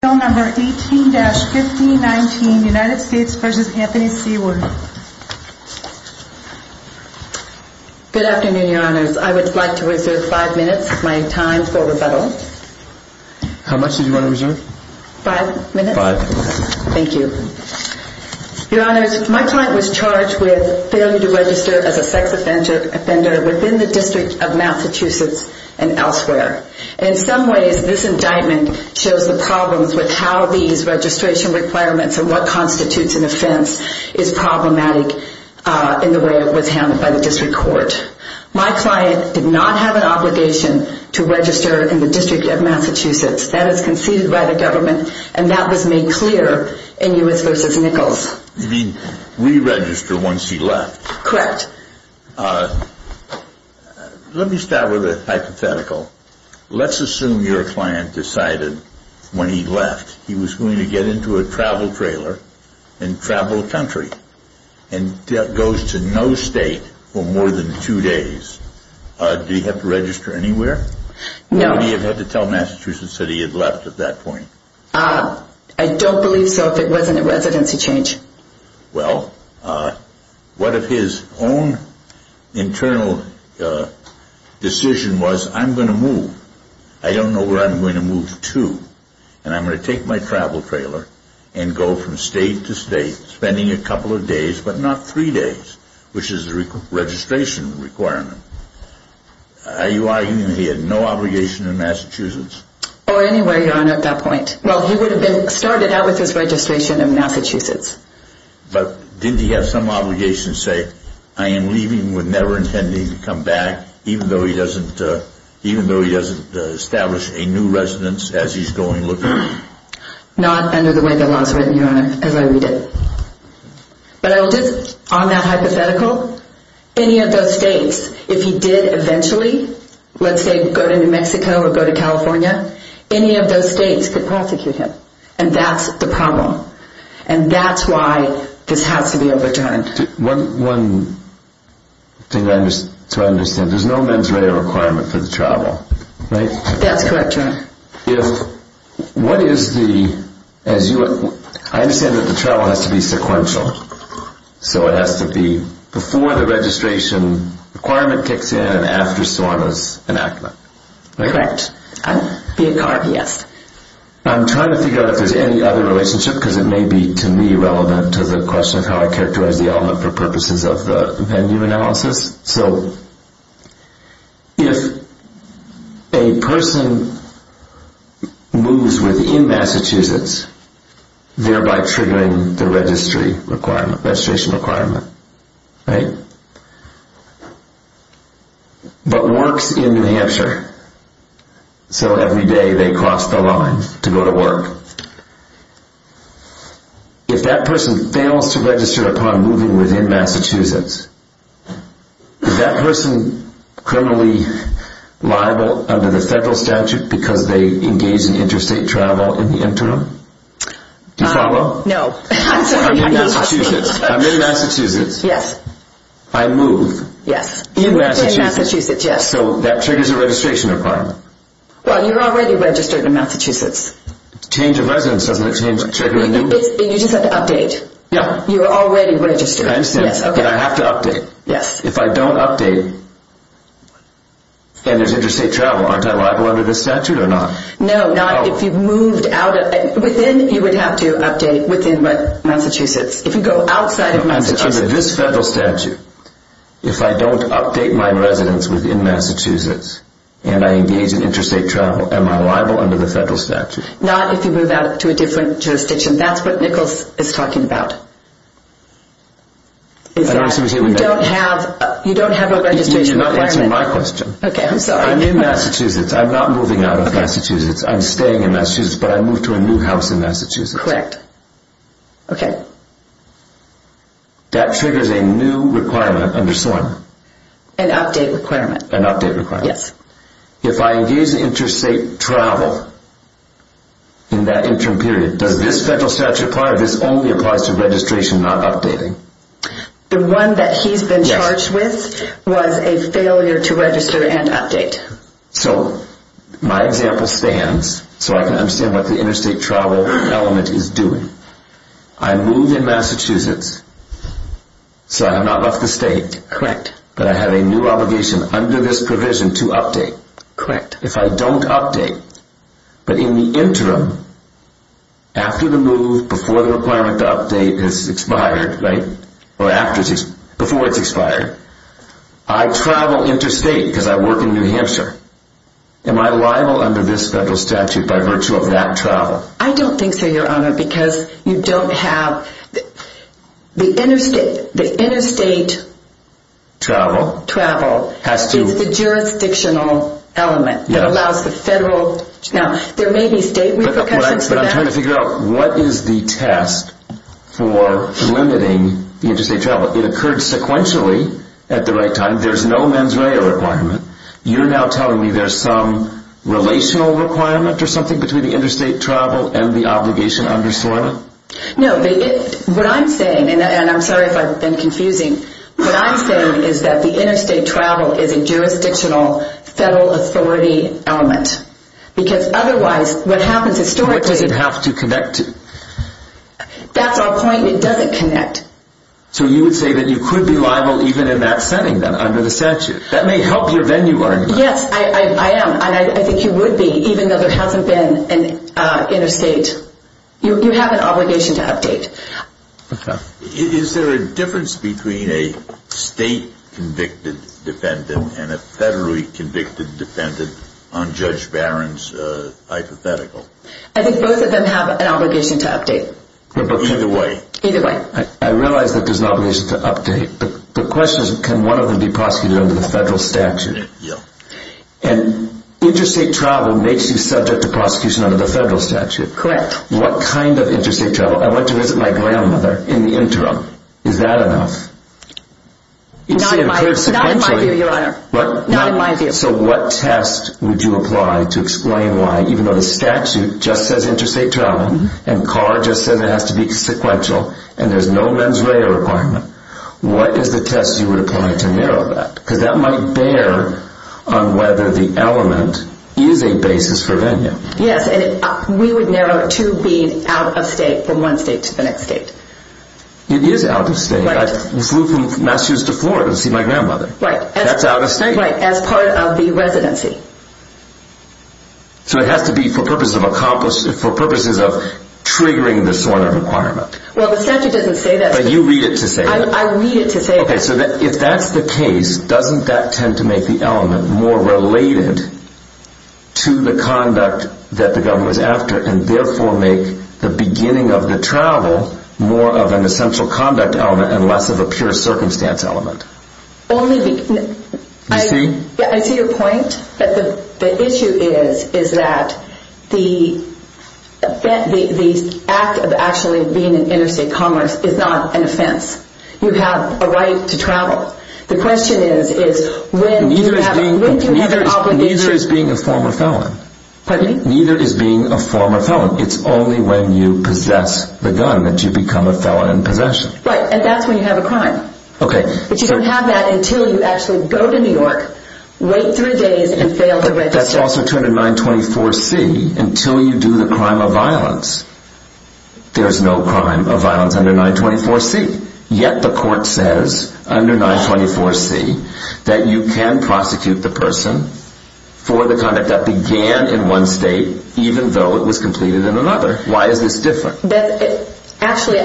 Good afternoon, your honors. I would like to reserve five minutes of my time for rebuttal. How much did you want to reserve? Five minutes. Five minutes. Thank you. Your honors, my client was charged with failure to register as a sex offender within the District of Massachusetts and elsewhere. In some ways, this indictment shows the problems with how these registration requirements and what constitutes an offense is problematic in the way it was handled by the District Court. My client did not have an obligation to register in the District of Massachusetts. That is conceded by the government and that was made clear in U.S. v. Nichols. You mean re-register once he left? Correct. Let me start with a simple question. Hypothetical. Let's assume your client decided when he left he was going to get into a travel trailer and travel the country and goes to no state for more than two days. Did he have to register anywhere? No. Would he have had to tell Massachusetts that he had left at that point? I don't believe so if it wasn't a residency change. Well, what if his own internal decision was I'm going to move. I don't know where I'm going to move to and I'm going to take my travel trailer and go from state to state spending a couple of days but not three days, which is the registration requirement. Are you arguing he had no obligation to Massachusetts? Or anywhere, your honor, at that point. Well, he would have been started out with his registration in Massachusetts. But didn't he have some obligation to say I am leaving with never intending to come back, even though he doesn't establish a new residence as he's going looking for one? Not under the way the law is written, your honor, as I read it. But I will just, on that hypothetical, any of those states, if he did eventually, let's say go to New Mexico or go to California, any of those states could prosecute him. And that's the problem. And that's why this has to be overturned. One thing to understand, there's no mens rea requirement for the travel, right? That's correct, your honor. What is the, as you, I understand the travel has to be sequential. So it has to be before the registration requirement kicks in and after Sona's enactment. Correct. Yes. I'm trying to figure out if there's any other relationship, because it may be, to me, relevant to the question of how I characterize the element for purposes of the venue analysis. So if a person moves within Massachusetts, thereby triggering the registry requirement, registration requirement, right? But works in New Hampshire, so every day they cross the line to go to New Hampshire. If that person fails to register upon moving within Massachusetts, is that person criminally liable under the federal statute because they engage in interstate travel in the interim? Do you follow? No. I'm in Massachusetts. I'm in Massachusetts. Yes. I move. Yes. In Massachusetts. In Massachusetts, yes. So that triggers a registration requirement. Well, you're already registered in Massachusetts. Change of residence doesn't it change, trigger a new? You just have to update. No. You're already registered. I understand. Yes. Okay. But I have to update. Yes. If I don't update, and there's interstate travel, aren't I liable under this statute or not? No, not if you've moved out of, within, you would have to update within Massachusetts. If you go outside of Massachusetts. Under this federal statute, if I don't update my residence within Massachusetts, and I engage in interstate travel, am I liable under the federal statute? Not if you move out to a different jurisdiction. That's what Nichols is talking about. You don't have a registration requirement. You're not answering my question. Okay. I'm sorry. I'm in Massachusetts. I'm not moving out of Massachusetts. I'm staying in Massachusetts, but I moved to a new house in Massachusetts. Correct. Okay. That triggers a new requirement under SORM. An update requirement. An update requirement. Yes. If I engage in interstate travel in that interim period, does this federal statute apply or this only applies to registration, not updating? The one that he's been charged with was a failure to register and update. So my example stands, so I can understand what the interstate travel element is doing. I moved in Massachusetts, so I have not left the state. Correct. But I have a new obligation under this provision to update. Correct. If I don't update, but in the interim, after the move, before the requirement to update has expired, right, or before it's expired, I travel interstate because I work in New Jersey, I travel. I don't think so, Your Honor, because you don't have, the interstate travel is the jurisdictional element that allows the federal. Now, there may be state repercussions for that. But I'm trying to figure out what is the test for limiting interstate travel. It occurred sequentially at the right time. There's no mens rea requirement. You're now telling me there's some relational requirement or something between the interstate travel and the obligation under SOILA? No, but what I'm saying, and I'm sorry if I've been confusing, what I'm saying is that the interstate travel is a jurisdictional federal authority element. Because otherwise, what happens historically. What does it have to connect to? That's our point. It doesn't connect. So you would say that you could be liable even in that setting under the statute. That may help your venue argument. Yes, I am, and I think you would be, even though there hasn't been an interstate. You have an obligation to update. Okay. Is there a difference between a state convicted defendant and a federally convicted defendant on Judge Barron's hypothetical? I think both of them have an obligation to update. Either way. Either way. I realize that there's an obligation to update, but the question is, can one of them be prosecuted under the federal statute? Yeah. And interstate travel makes you subject to prosecution under the federal statute. Correct. What kind of interstate travel? I went to visit my grandmother in the interim. Is that enough? Not in my view, Your Honor. What? Not in my view. So what test would you apply to explain why, even though the statute just says interstate travel, and Carr just said it has to be sequential, and there's no mens rea requirement, what is the test you would apply to narrow that? Because that might bear on whether the element is a basis for venue. Yes, and we would narrow to being out of state from one state to the next state. It is out of state. I flew from Massachusetts to Florida to see my grandmother. Right. That's out of state. Right, as part of the residency. So it has to be for purposes of triggering the sort of requirement. Well, the statute doesn't say that. But you read it to say that. I read it to say that. Okay, so if that's the case, doesn't that tend to make the element more related to the conduct that the government was after, and therefore make the beginning of the travel more of an issue? To your point, the issue is that the act of actually being in interstate commerce is not an offense. You have a right to travel. The question is, when do you have an obligation? Neither is being a former felon. Pardon me? Neither is being a former felon. It's only when you possess the gun that you become a felon in possession. Right, and that's when you have a crime. Okay. But you don't have that until you actually go to New York, wait three days, and fail to register. But that's also true in 924C. Until you do the crime of violence, there's no crime of violence under 924C. Yet the court says, under 924C, that you can prosecute the person for the conduct that began in one state, even though it was completed in another. Why is this different? Actually,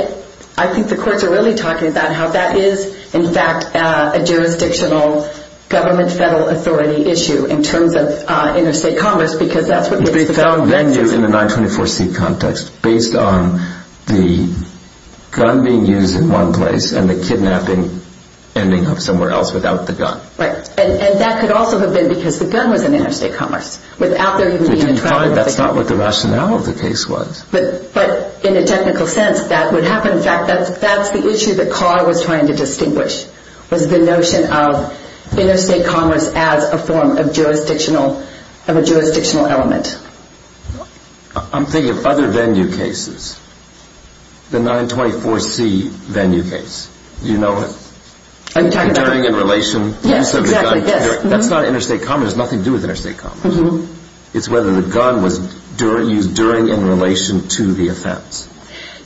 I think the courts are really talking about how that is, in fact, a jurisdictional, government-federal authority issue in terms of interstate commerce, because that's what makes the felon vengeance. It would be felon venue in the 924C context, based on the gun being used in one place, and the kidnapping ending up somewhere else without the gun. Right, and that could also have been because the gun was in interstate commerce, without there even being a trial of the gun. That's not what the rationale of the case was. But in a technical sense, that would happen. In fact, the issue that Carr was trying to distinguish was the notion of interstate commerce as a form of jurisdictional element. I'm thinking of other venue cases. The 924C venue case. You know it. Are you talking about during and relation? Yes, exactly. That's not interstate commerce. It has nothing to do with interstate commerce. It's whether the gun was used during and relation to the offense.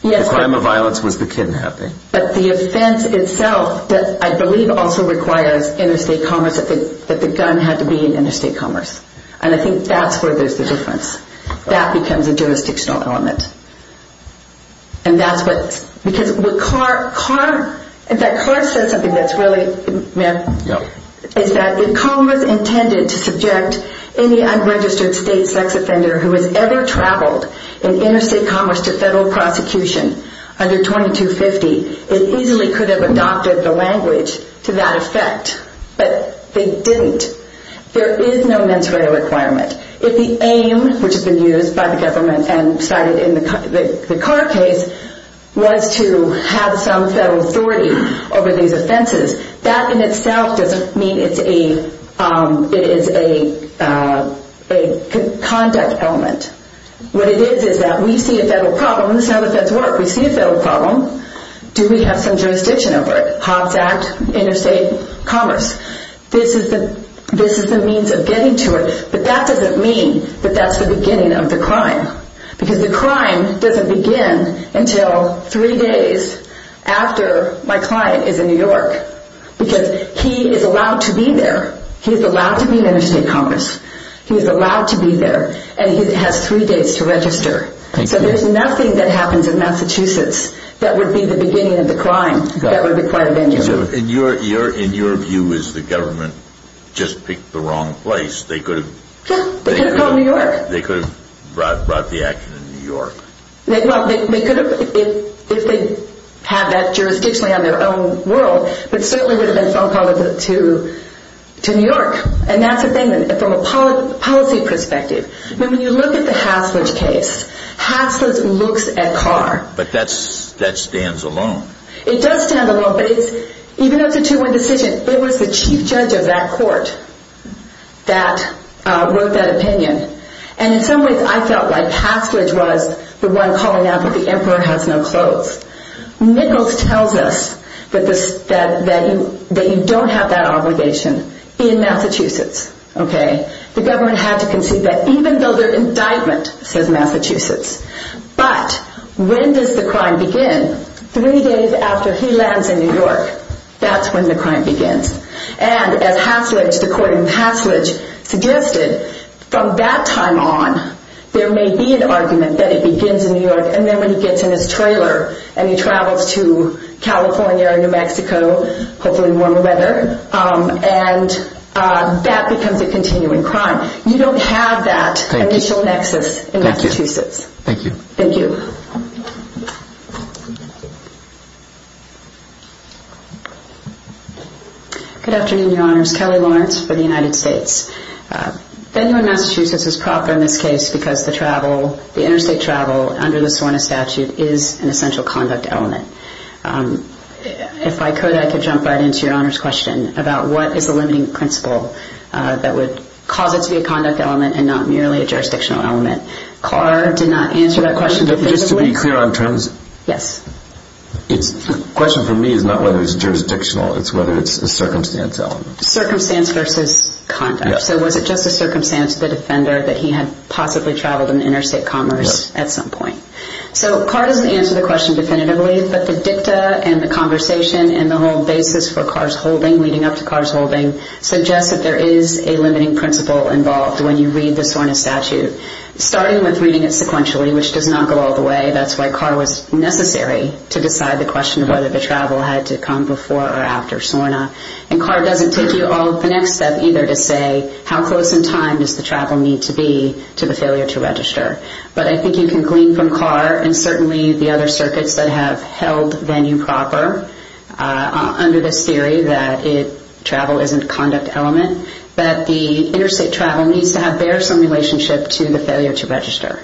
The crime of violence was the kidnapping. But the offense itself, I believe, also requires interstate commerce, that the gun had to be in interstate commerce. And I think that's where there's the difference. That becomes a jurisdictional element. And that's what, because what Carr, in fact, Carr says something that's really is that if Congress intended to subject any unregistered state sex offender who has ever traveled in interstate commerce to federal prosecution under 2250, it easily could have adopted the language to that effect. But they didn't. There is no mens rea requirement. If the aim, which has been used by the government and cited in the Carr case, was to have some federal authority over these offenses, that in itself doesn't mean it's a conduct element. What it is is that we see a federal problem. This is how the feds work. We see a federal problem. Do we have some jurisdiction over it? Hobbs Act, interstate commerce. This is the means of getting to it. But that doesn't mean that that's the beginning of the crime. Because the crime doesn't begin until three days after my client is in New York. Because he is allowed to be there. He is allowed to be in interstate commerce. He is allowed to be there. And he has three days to register. So there's nothing that happens in Massachusetts that would be the beginning of the crime that would require a venue. So in your view, is the government just picked the wrong place? They could have called New York. They could have brought the action in New York. Well, they could have, if they had that jurisdiction on their own world, but certainly would have been phone called to New York. And that's the thing, from a policy perspective. When you look at the Haslund case, Haslund looks at Carr. But that stands alone. It does stand alone. But even though it's a two-way decision, it was the chief judge of that court that wrote that opinion. And in some ways, I felt like Haslund was the one calling out that the emperor has no clothes. Nichols tells us that you don't have that obligation in Massachusetts. The government had to concede that, even though they're in indictment, says Massachusetts. But when does the crime begin? Three days after he lands in New York. That's when the crime begins. And as the court in Haslund suggested, from that time on, there may be an argument that it begins in New York, and then when he gets in his trailer and he travels to California or New Mexico, hopefully in warmer weather, and that becomes a continuing crime. You don't have that initial nexus in Massachusetts. Thank you. Thank you. Good afternoon, Your Honors. Kelly Lawrence for the United States. Venue in Massachusetts is proper in this case because the travel, the interstate travel under the SORNA statute is an essential conduct element. If I could, I could jump right into Your Honor's question about what is the limiting principle that would cause it to be a conduct element and not merely a jurisdictional element. Carr did not answer that question definitively. Just to be clear on terms, the question for me is not whether it's jurisdictional, it's whether it's a circumstance element. Circumstance versus conduct. So was it just a circumstance, the defender, that he had possibly traveled in interstate commerce at some point? So Carr doesn't answer the question definitively, but the dicta and the conversation and the whole basis for Carr's holding, leading up to Carr's holding, suggests that there is a limiting principle involved when you read the SORNA statute. Starting with reading it sequentially, which does not go all the way, that's why Carr was necessary to decide the question of whether the travel had to come before or after SORNA. And Carr doesn't take you all the next step either to say how close in time does the travel need to be to the failure to register. But I think you can glean from Carr and certainly the other circuits that have held venue proper under this theory that travel isn't a conduct element, that the interstate travel needs to have some relationship to the failure to register.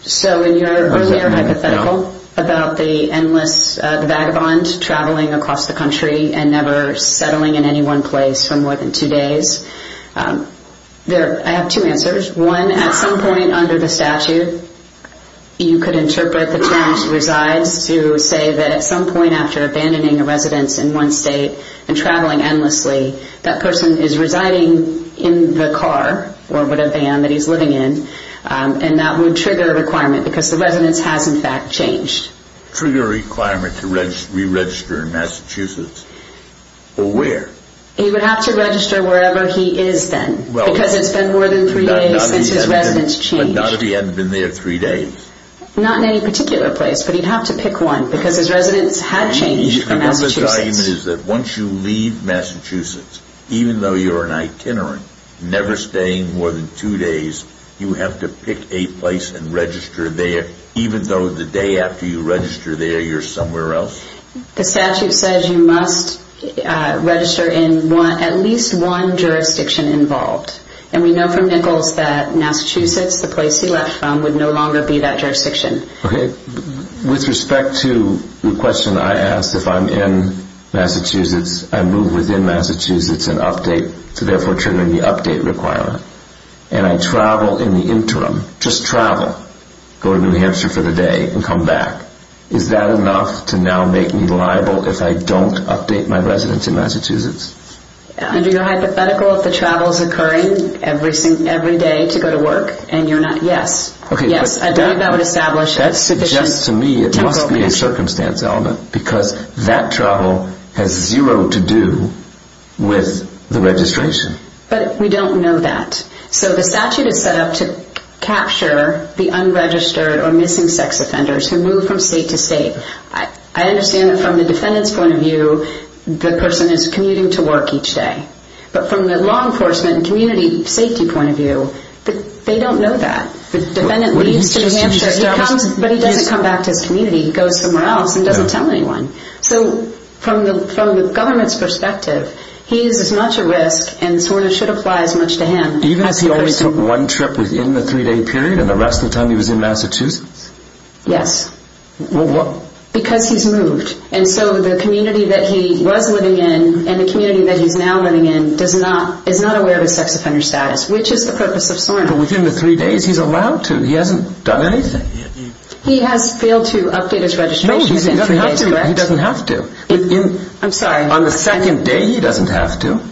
So in your earlier hypothetical about the endless vagabond traveling across the country and never settling in any one place for more than two days, I have two answers. One, at some point under the statute, you could interpret the terms resides to say that at some point after abandoning a residence in one state and traveling endlessly, that person is residing in the car or with a van that he's living in. And that would trigger a requirement because the residence has, in fact, changed. Trigger a requirement to re-register in Massachusetts? Or where? He would have to register wherever he is then because it's been more than three days since his residence changed. But not if he hadn't been there three days? Not in any particular place, but he'd have to pick one because his residence had changed from Massachusetts. So your argument is that once you leave Massachusetts, even though you're an itinerant, never staying more than two days, you have to pick a place and register there, even though the day after you register there, you're somewhere else? The statute says you must register in at least one jurisdiction involved. And we know from Nichols that Massachusetts, the place he left from, would no longer be that jurisdiction. Okay. With respect to the question I asked, if I'm in Massachusetts, I move within Massachusetts and update to therefore triggering the update requirement, and I travel in the interim, just travel, go to New Hampshire for the day and come back, is that enough to now make me liable if I don't update my residence in Massachusetts? Under your hypothetical, if the travel is occurring every day to go to work and you're not, yes. That suggests to me it must be a circumstance element because that travel has zero to do with the registration. But we don't know that. So the statute is set up to capture the unregistered or missing sex offenders who move from state to state. I understand that from the defendant's point of view, the person is commuting to work each day. But from the law enforcement and community safety point of view, they don't know that. The defendant leaves to New Hampshire, but he doesn't come back to his community. He goes somewhere else and doesn't tell anyone. So from the government's perspective, he is as much a risk and SORNA should apply as much to him. Even if he only took one trip within the three-day period and the rest of the time he was in Massachusetts? Yes. Because he's moved. And so the community that he was living in and the community that he's now living in is not aware of his sex offender status, which is the purpose of SORNA. But within the three days, he's allowed to. He hasn't done anything. He has failed to update his registration within three days, correct? No, he doesn't have to. I'm sorry. On the second day, he doesn't have to.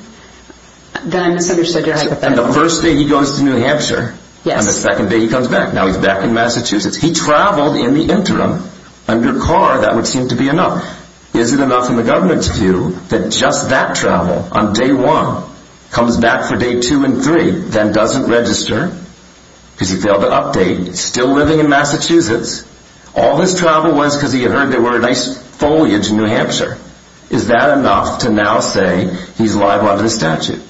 Then I misunderstood your hypothetical. On the first day, he goes to New Hampshire. On the second day, he comes back. Now he's back in Massachusetts. He traveled in the interim. Under CAR, that would seem to be enough. Is it enough in the government's view that just that travel on day one comes back for day two and three, then doesn't register because he failed to update, still living in Massachusetts? All his travel was because he had heard there were a nice foliage in New Hampshire. Is that enough to now say he's live under the statute?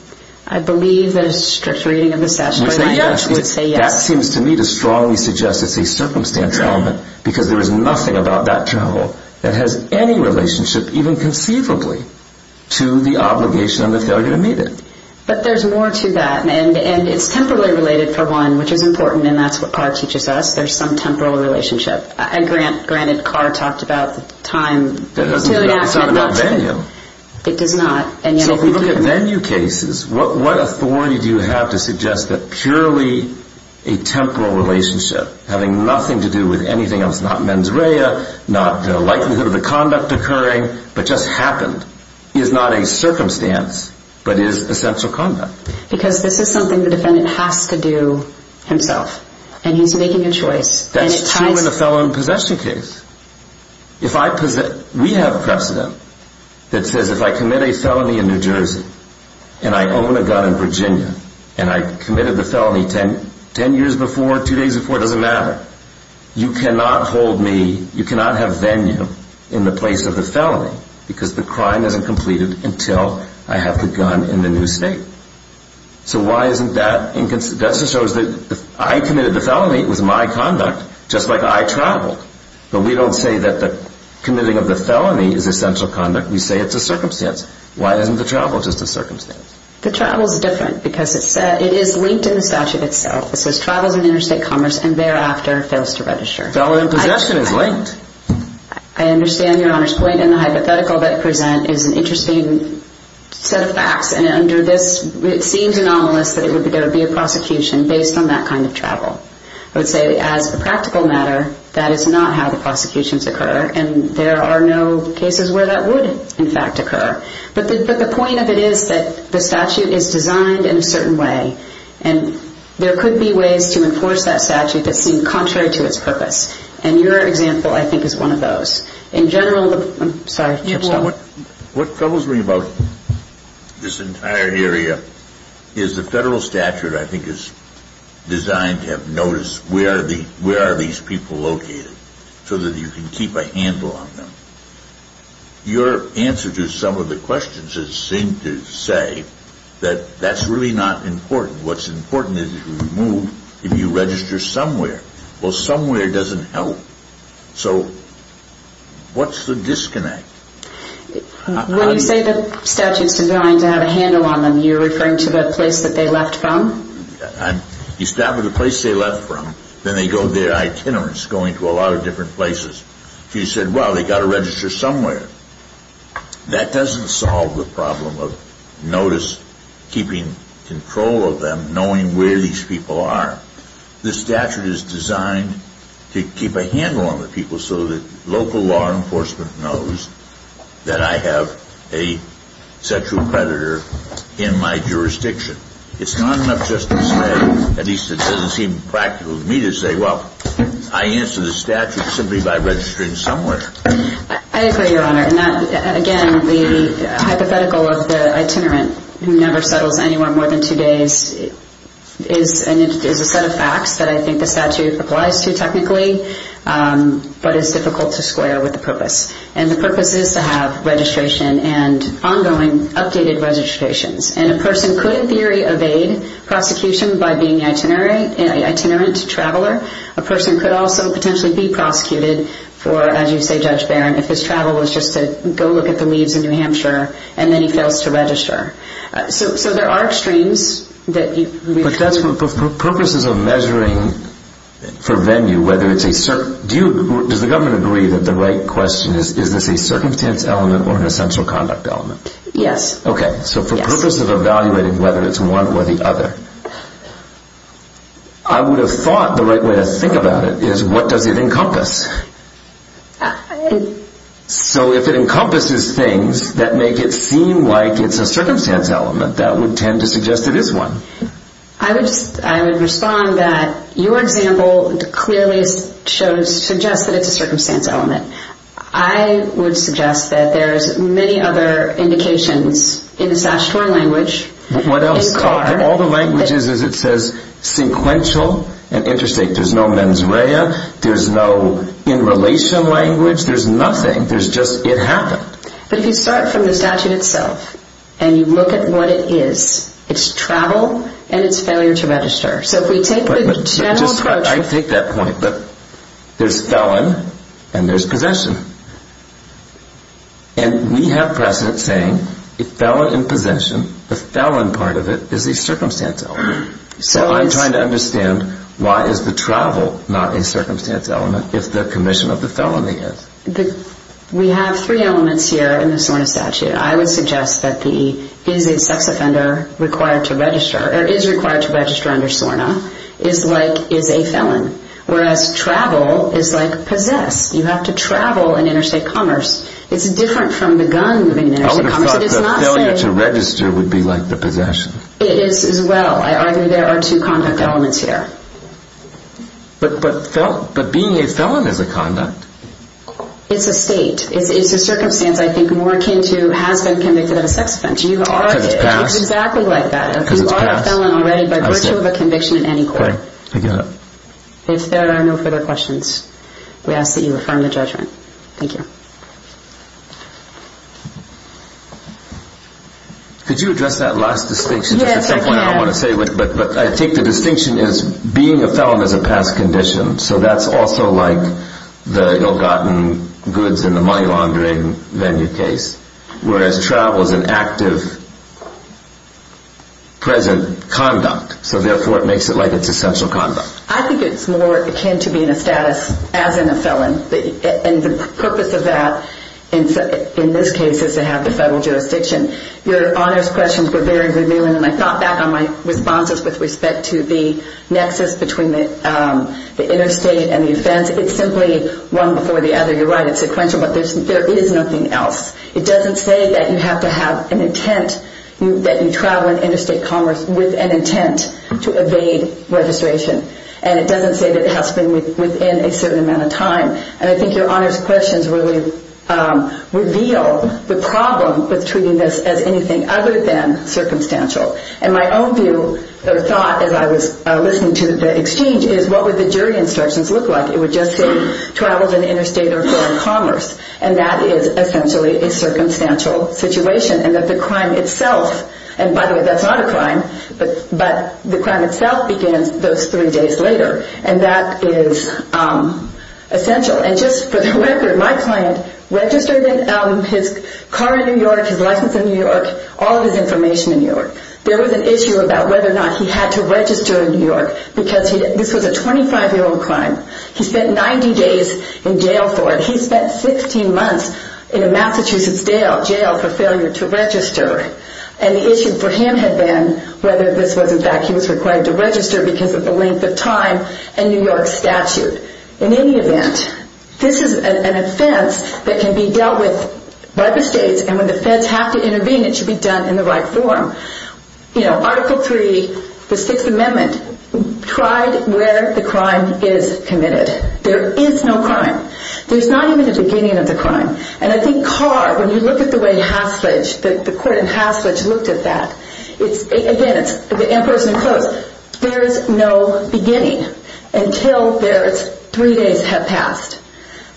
I believe that a strict reading of the statute would say yes. That seems to me to strongly suggest it's a circumstance element because there is nothing about that travel that has any relationship, even conceivably, to the obligation and the failure to meet it. But there's more to that, and it's temporally related, for one, which is important, and that's what CAR teaches us. There's some temporal relationship. Granted, CAR talked about time. That doesn't mean it's not a menu. It does not. So if we look at menu cases, what authority do you have to suggest that purely a temporal relationship, having nothing to do with anything else, not mens rea, not the likelihood of the conduct occurring, but just happened, is not a circumstance but is essential conduct? Because this is something the defendant has to do himself, and he's making a choice. That's true in a felon possession case. We have precedent that says if I commit a felony in New Jersey and I own a gun in Virginia and I committed the felony ten years before, two days before, it doesn't matter. You cannot hold me, you cannot have venue in the place of the felony because the crime isn't completed until I have the gun in the new state. So why isn't that? That just shows that if I committed the felony, it was my conduct, just like I traveled. But we don't say that the committing of the felony is essential conduct. We say it's a circumstance. Why isn't the travel just a circumstance? The travel is different because it is linked in the statute itself. It says travels in interstate commerce and thereafter fails to register. Felony in possession is linked. I understand Your Honor's point, and the hypothetical that you present is an interesting set of facts, and under this it seems anomalous that there would be a prosecution based on that kind of travel. I would say as a practical matter, that is not how the prosecutions occur, and there are no cases where that would, in fact, occur. But the point of it is that the statute is designed in a certain way, and there could be ways to enforce that statute that seem contrary to its purpose, and your example, I think, is one of those. In general, I'm sorry, Chip. What troubles me about this entire area is the federal statute, I think, is designed to have notice where are these people located so that you can keep a handle on them. Your answer to some of the questions has seemed to say that that's really not important. What's important is if you move, if you register somewhere. Well, somewhere doesn't help. So what's the disconnect? When you say the statute is designed to have a handle on them, you're referring to the place that they left from? You start with the place they left from, then they go their itinerants going to a lot of different places. You said, well, they've got to register somewhere. That doesn't solve the problem of notice, keeping control of them, knowing where these people are. The statute is designed to keep a handle on the people so that local law enforcement knows that I have a sexual predator in my jurisdiction. It's not enough just to say, at least it doesn't seem practical to me to say, well, I answer the statute simply by registering somewhere. I agree, Your Honor. Again, the hypothetical of the itinerant who never settles anywhere more than two days is a set of facts that I think the statute applies to technically, but it's difficult to square with the purpose. And the purpose is to have registration and ongoing updated registrations. And a person could, in theory, evade prosecution by being an itinerant traveler. A person could also potentially be prosecuted for, as you say, Judge Barron, if his travel was just to go look at the leaves in New Hampshire and then he fails to register. So there are extremes. But for purposes of measuring for venue, does the government agree that the right question is, is this a circumstance element or an essential conduct element? Yes. Okay. So for purposes of evaluating whether it's one or the other, I would have thought the right way to think about it is, what does it encompass? So if it encompasses things that make it seem like it's a circumstance element, that would tend to suggest it is one. I would respond that your example clearly suggests that it's a circumstance element. I would suggest that there's many other indications in the statutory language. What else? All the languages, as it says, sequential and interstate. There's no mens rea. There's no in relation language. There's nothing. There's just it happened. But if you start from the statute itself and you look at what it is, it's travel and it's failure to register. So if we take the general approach. I take that point, but there's felon and there's possession. And we have precedent saying a felon in possession, the felon part of it, is a circumstance element. So I'm trying to understand why is the travel not a circumstance element if the commission of the felony is? We have three elements here in the SORNA statute. I would suggest that the is a sex offender required to register or is required to register under SORNA is like is a felon, whereas travel is like possess. You have to travel in interstate commerce. It's different from the gun in interstate commerce. I would have thought the failure to register would be like the possession. It is as well. I argue there are two conduct elements here. But being a felon is a conduct. It's a state. It's a circumstance I think more akin to has been convicted of a sex offense. You are. Because it's passed. It's exactly like that. You are a felon already by virtue of a conviction in any court. Okay. I get it. If there are no further questions, we ask that you affirm the judgment. Thank you. Could you address that last distinction? Yes, I can. But I think the distinction is being a felon is a past condition. So that's also like the ill-gotten goods in the money laundering venue case, whereas travel is an active present conduct. So therefore it makes it like it's essential conduct. I think it's more akin to being a status as in a felon. And the purpose of that in this case is to have the federal jurisdiction. Your honors questions were very revealing, and I thought back on my responses with respect to the nexus between the interstate and the offense. It's simply one before the other. You're right. It's sequential. But there is nothing else. It doesn't say that you have to have an intent, that you travel in interstate commerce with an intent to evade registration. And it doesn't say that it has to be within a certain amount of time. And I think your honors questions really reveal the problem with treating this as anything other than circumstantial. And my own view or thought as I was listening to the exchange is what would the jury instructions look like? It would just say travels in interstate or foreign commerce. And that is essentially a circumstantial situation. And that the crime itself, and by the way, that's not a crime, but the crime itself begins those three days later. And that is essential. And just for the record, my client registered his car in New York, his license in New York, all of his information in New York. There was an issue about whether or not he had to register in New York because this was a 25-year-old crime. He spent 90 days in jail for it. He spent 16 months in a Massachusetts jail for failure to register. And the issue for him had been whether this was in fact he was required to register because of the length of time and New York statute. In any event, this is an offense that can be dealt with by the states. And when the feds have to intervene, it should be done in the right form. Article III, the Sixth Amendment, tried where the crime is committed. There is no crime. There's not even a beginning of the crime. And I think Carr, when you look at the way Hasledge, the court in Hasledge looked at that, again, it's the Emperor's New Clothes. There is no beginning until those three days have passed.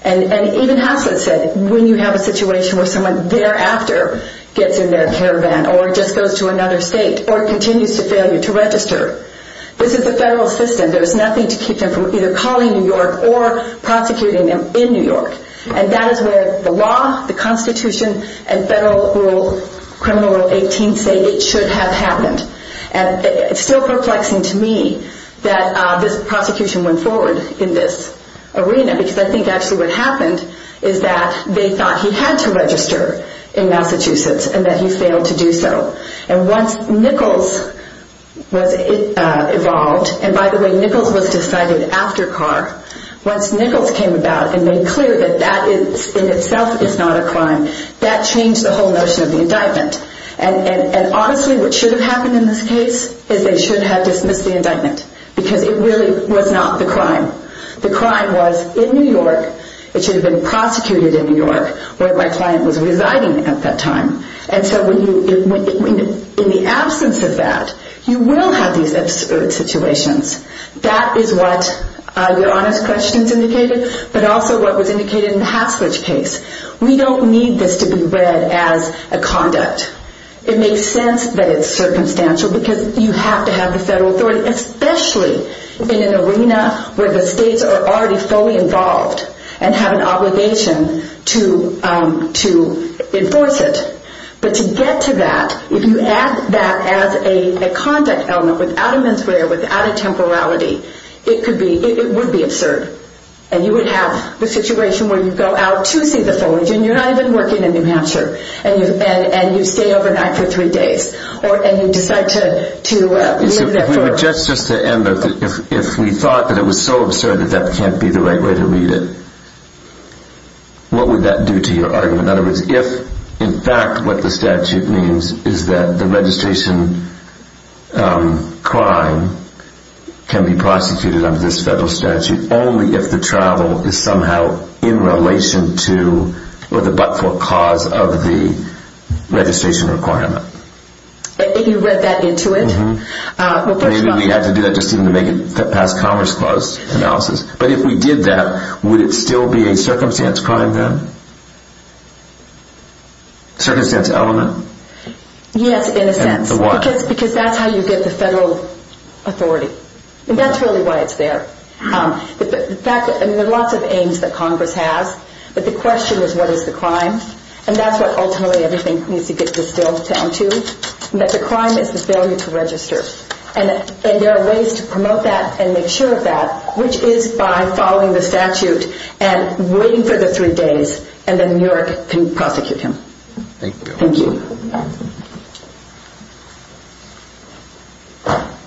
And even Hasledge said when you have a situation where someone thereafter gets in their caravan or just goes to another state or continues to failure to register, this is the federal system. There's nothing to keep them from either calling New York or prosecuting them in New York. And that is where the law, the Constitution, and federal criminal rule 18 say it should have happened. And it's still perplexing to me that this prosecution went forward in this arena because I think actually what happened is that they thought he had to register in Massachusetts and that he failed to do so. And once Nichols was involved, and by the way, Nichols was decided after Carr, once Nichols came about and made clear that that in itself is not a crime, that changed the whole notion of the indictment. And honestly, what should have happened in this case is they should have dismissed the indictment because it really was not the crime. The crime was in New York. It should have been prosecuted in New York where my client was residing at that time. And so in the absence of that, you will have these absurd situations. That is what Your Honor's questions indicated, but also what was indicated in the Hasledge case. We don't need this to be read as a conduct. It makes sense that it's circumstantial because you have to have the federal authority, especially in an arena where the states are already fully involved and have an obligation to enforce it. But to get to that, if you add that as a conduct element, without a menswear, without a temporality, it would be absurd. And you would have the situation where you go out to see the foliage and you're not even working in New Hampshire and you stay overnight for three days. And you decide to live there forever. If we thought that it was so absurd that that can't be the right way to read it, what would that do to your argument? In other words, if in fact what the statute means is that the registration crime can be prosecuted under this federal statute only if the travel is somehow in relation to or the but-for cause of the registration requirement. If you read that into it? Maybe we have to do that just to make it past Commerce Clause analysis. But if we did that, would it still be a circumstance crime then? Circumstance element? Yes, in a sense. Because that's how you get the federal authority. And that's really why it's there. In fact, there are lots of aims that Congress has. But the question is, what is the crime? And that's what ultimately everything needs to get distilled down to, that the crime is the failure to register. And there are ways to promote that and make sure of that, which is by following the statute and waiting for the three days and then New York can prosecute him. Thank you. Absolutely.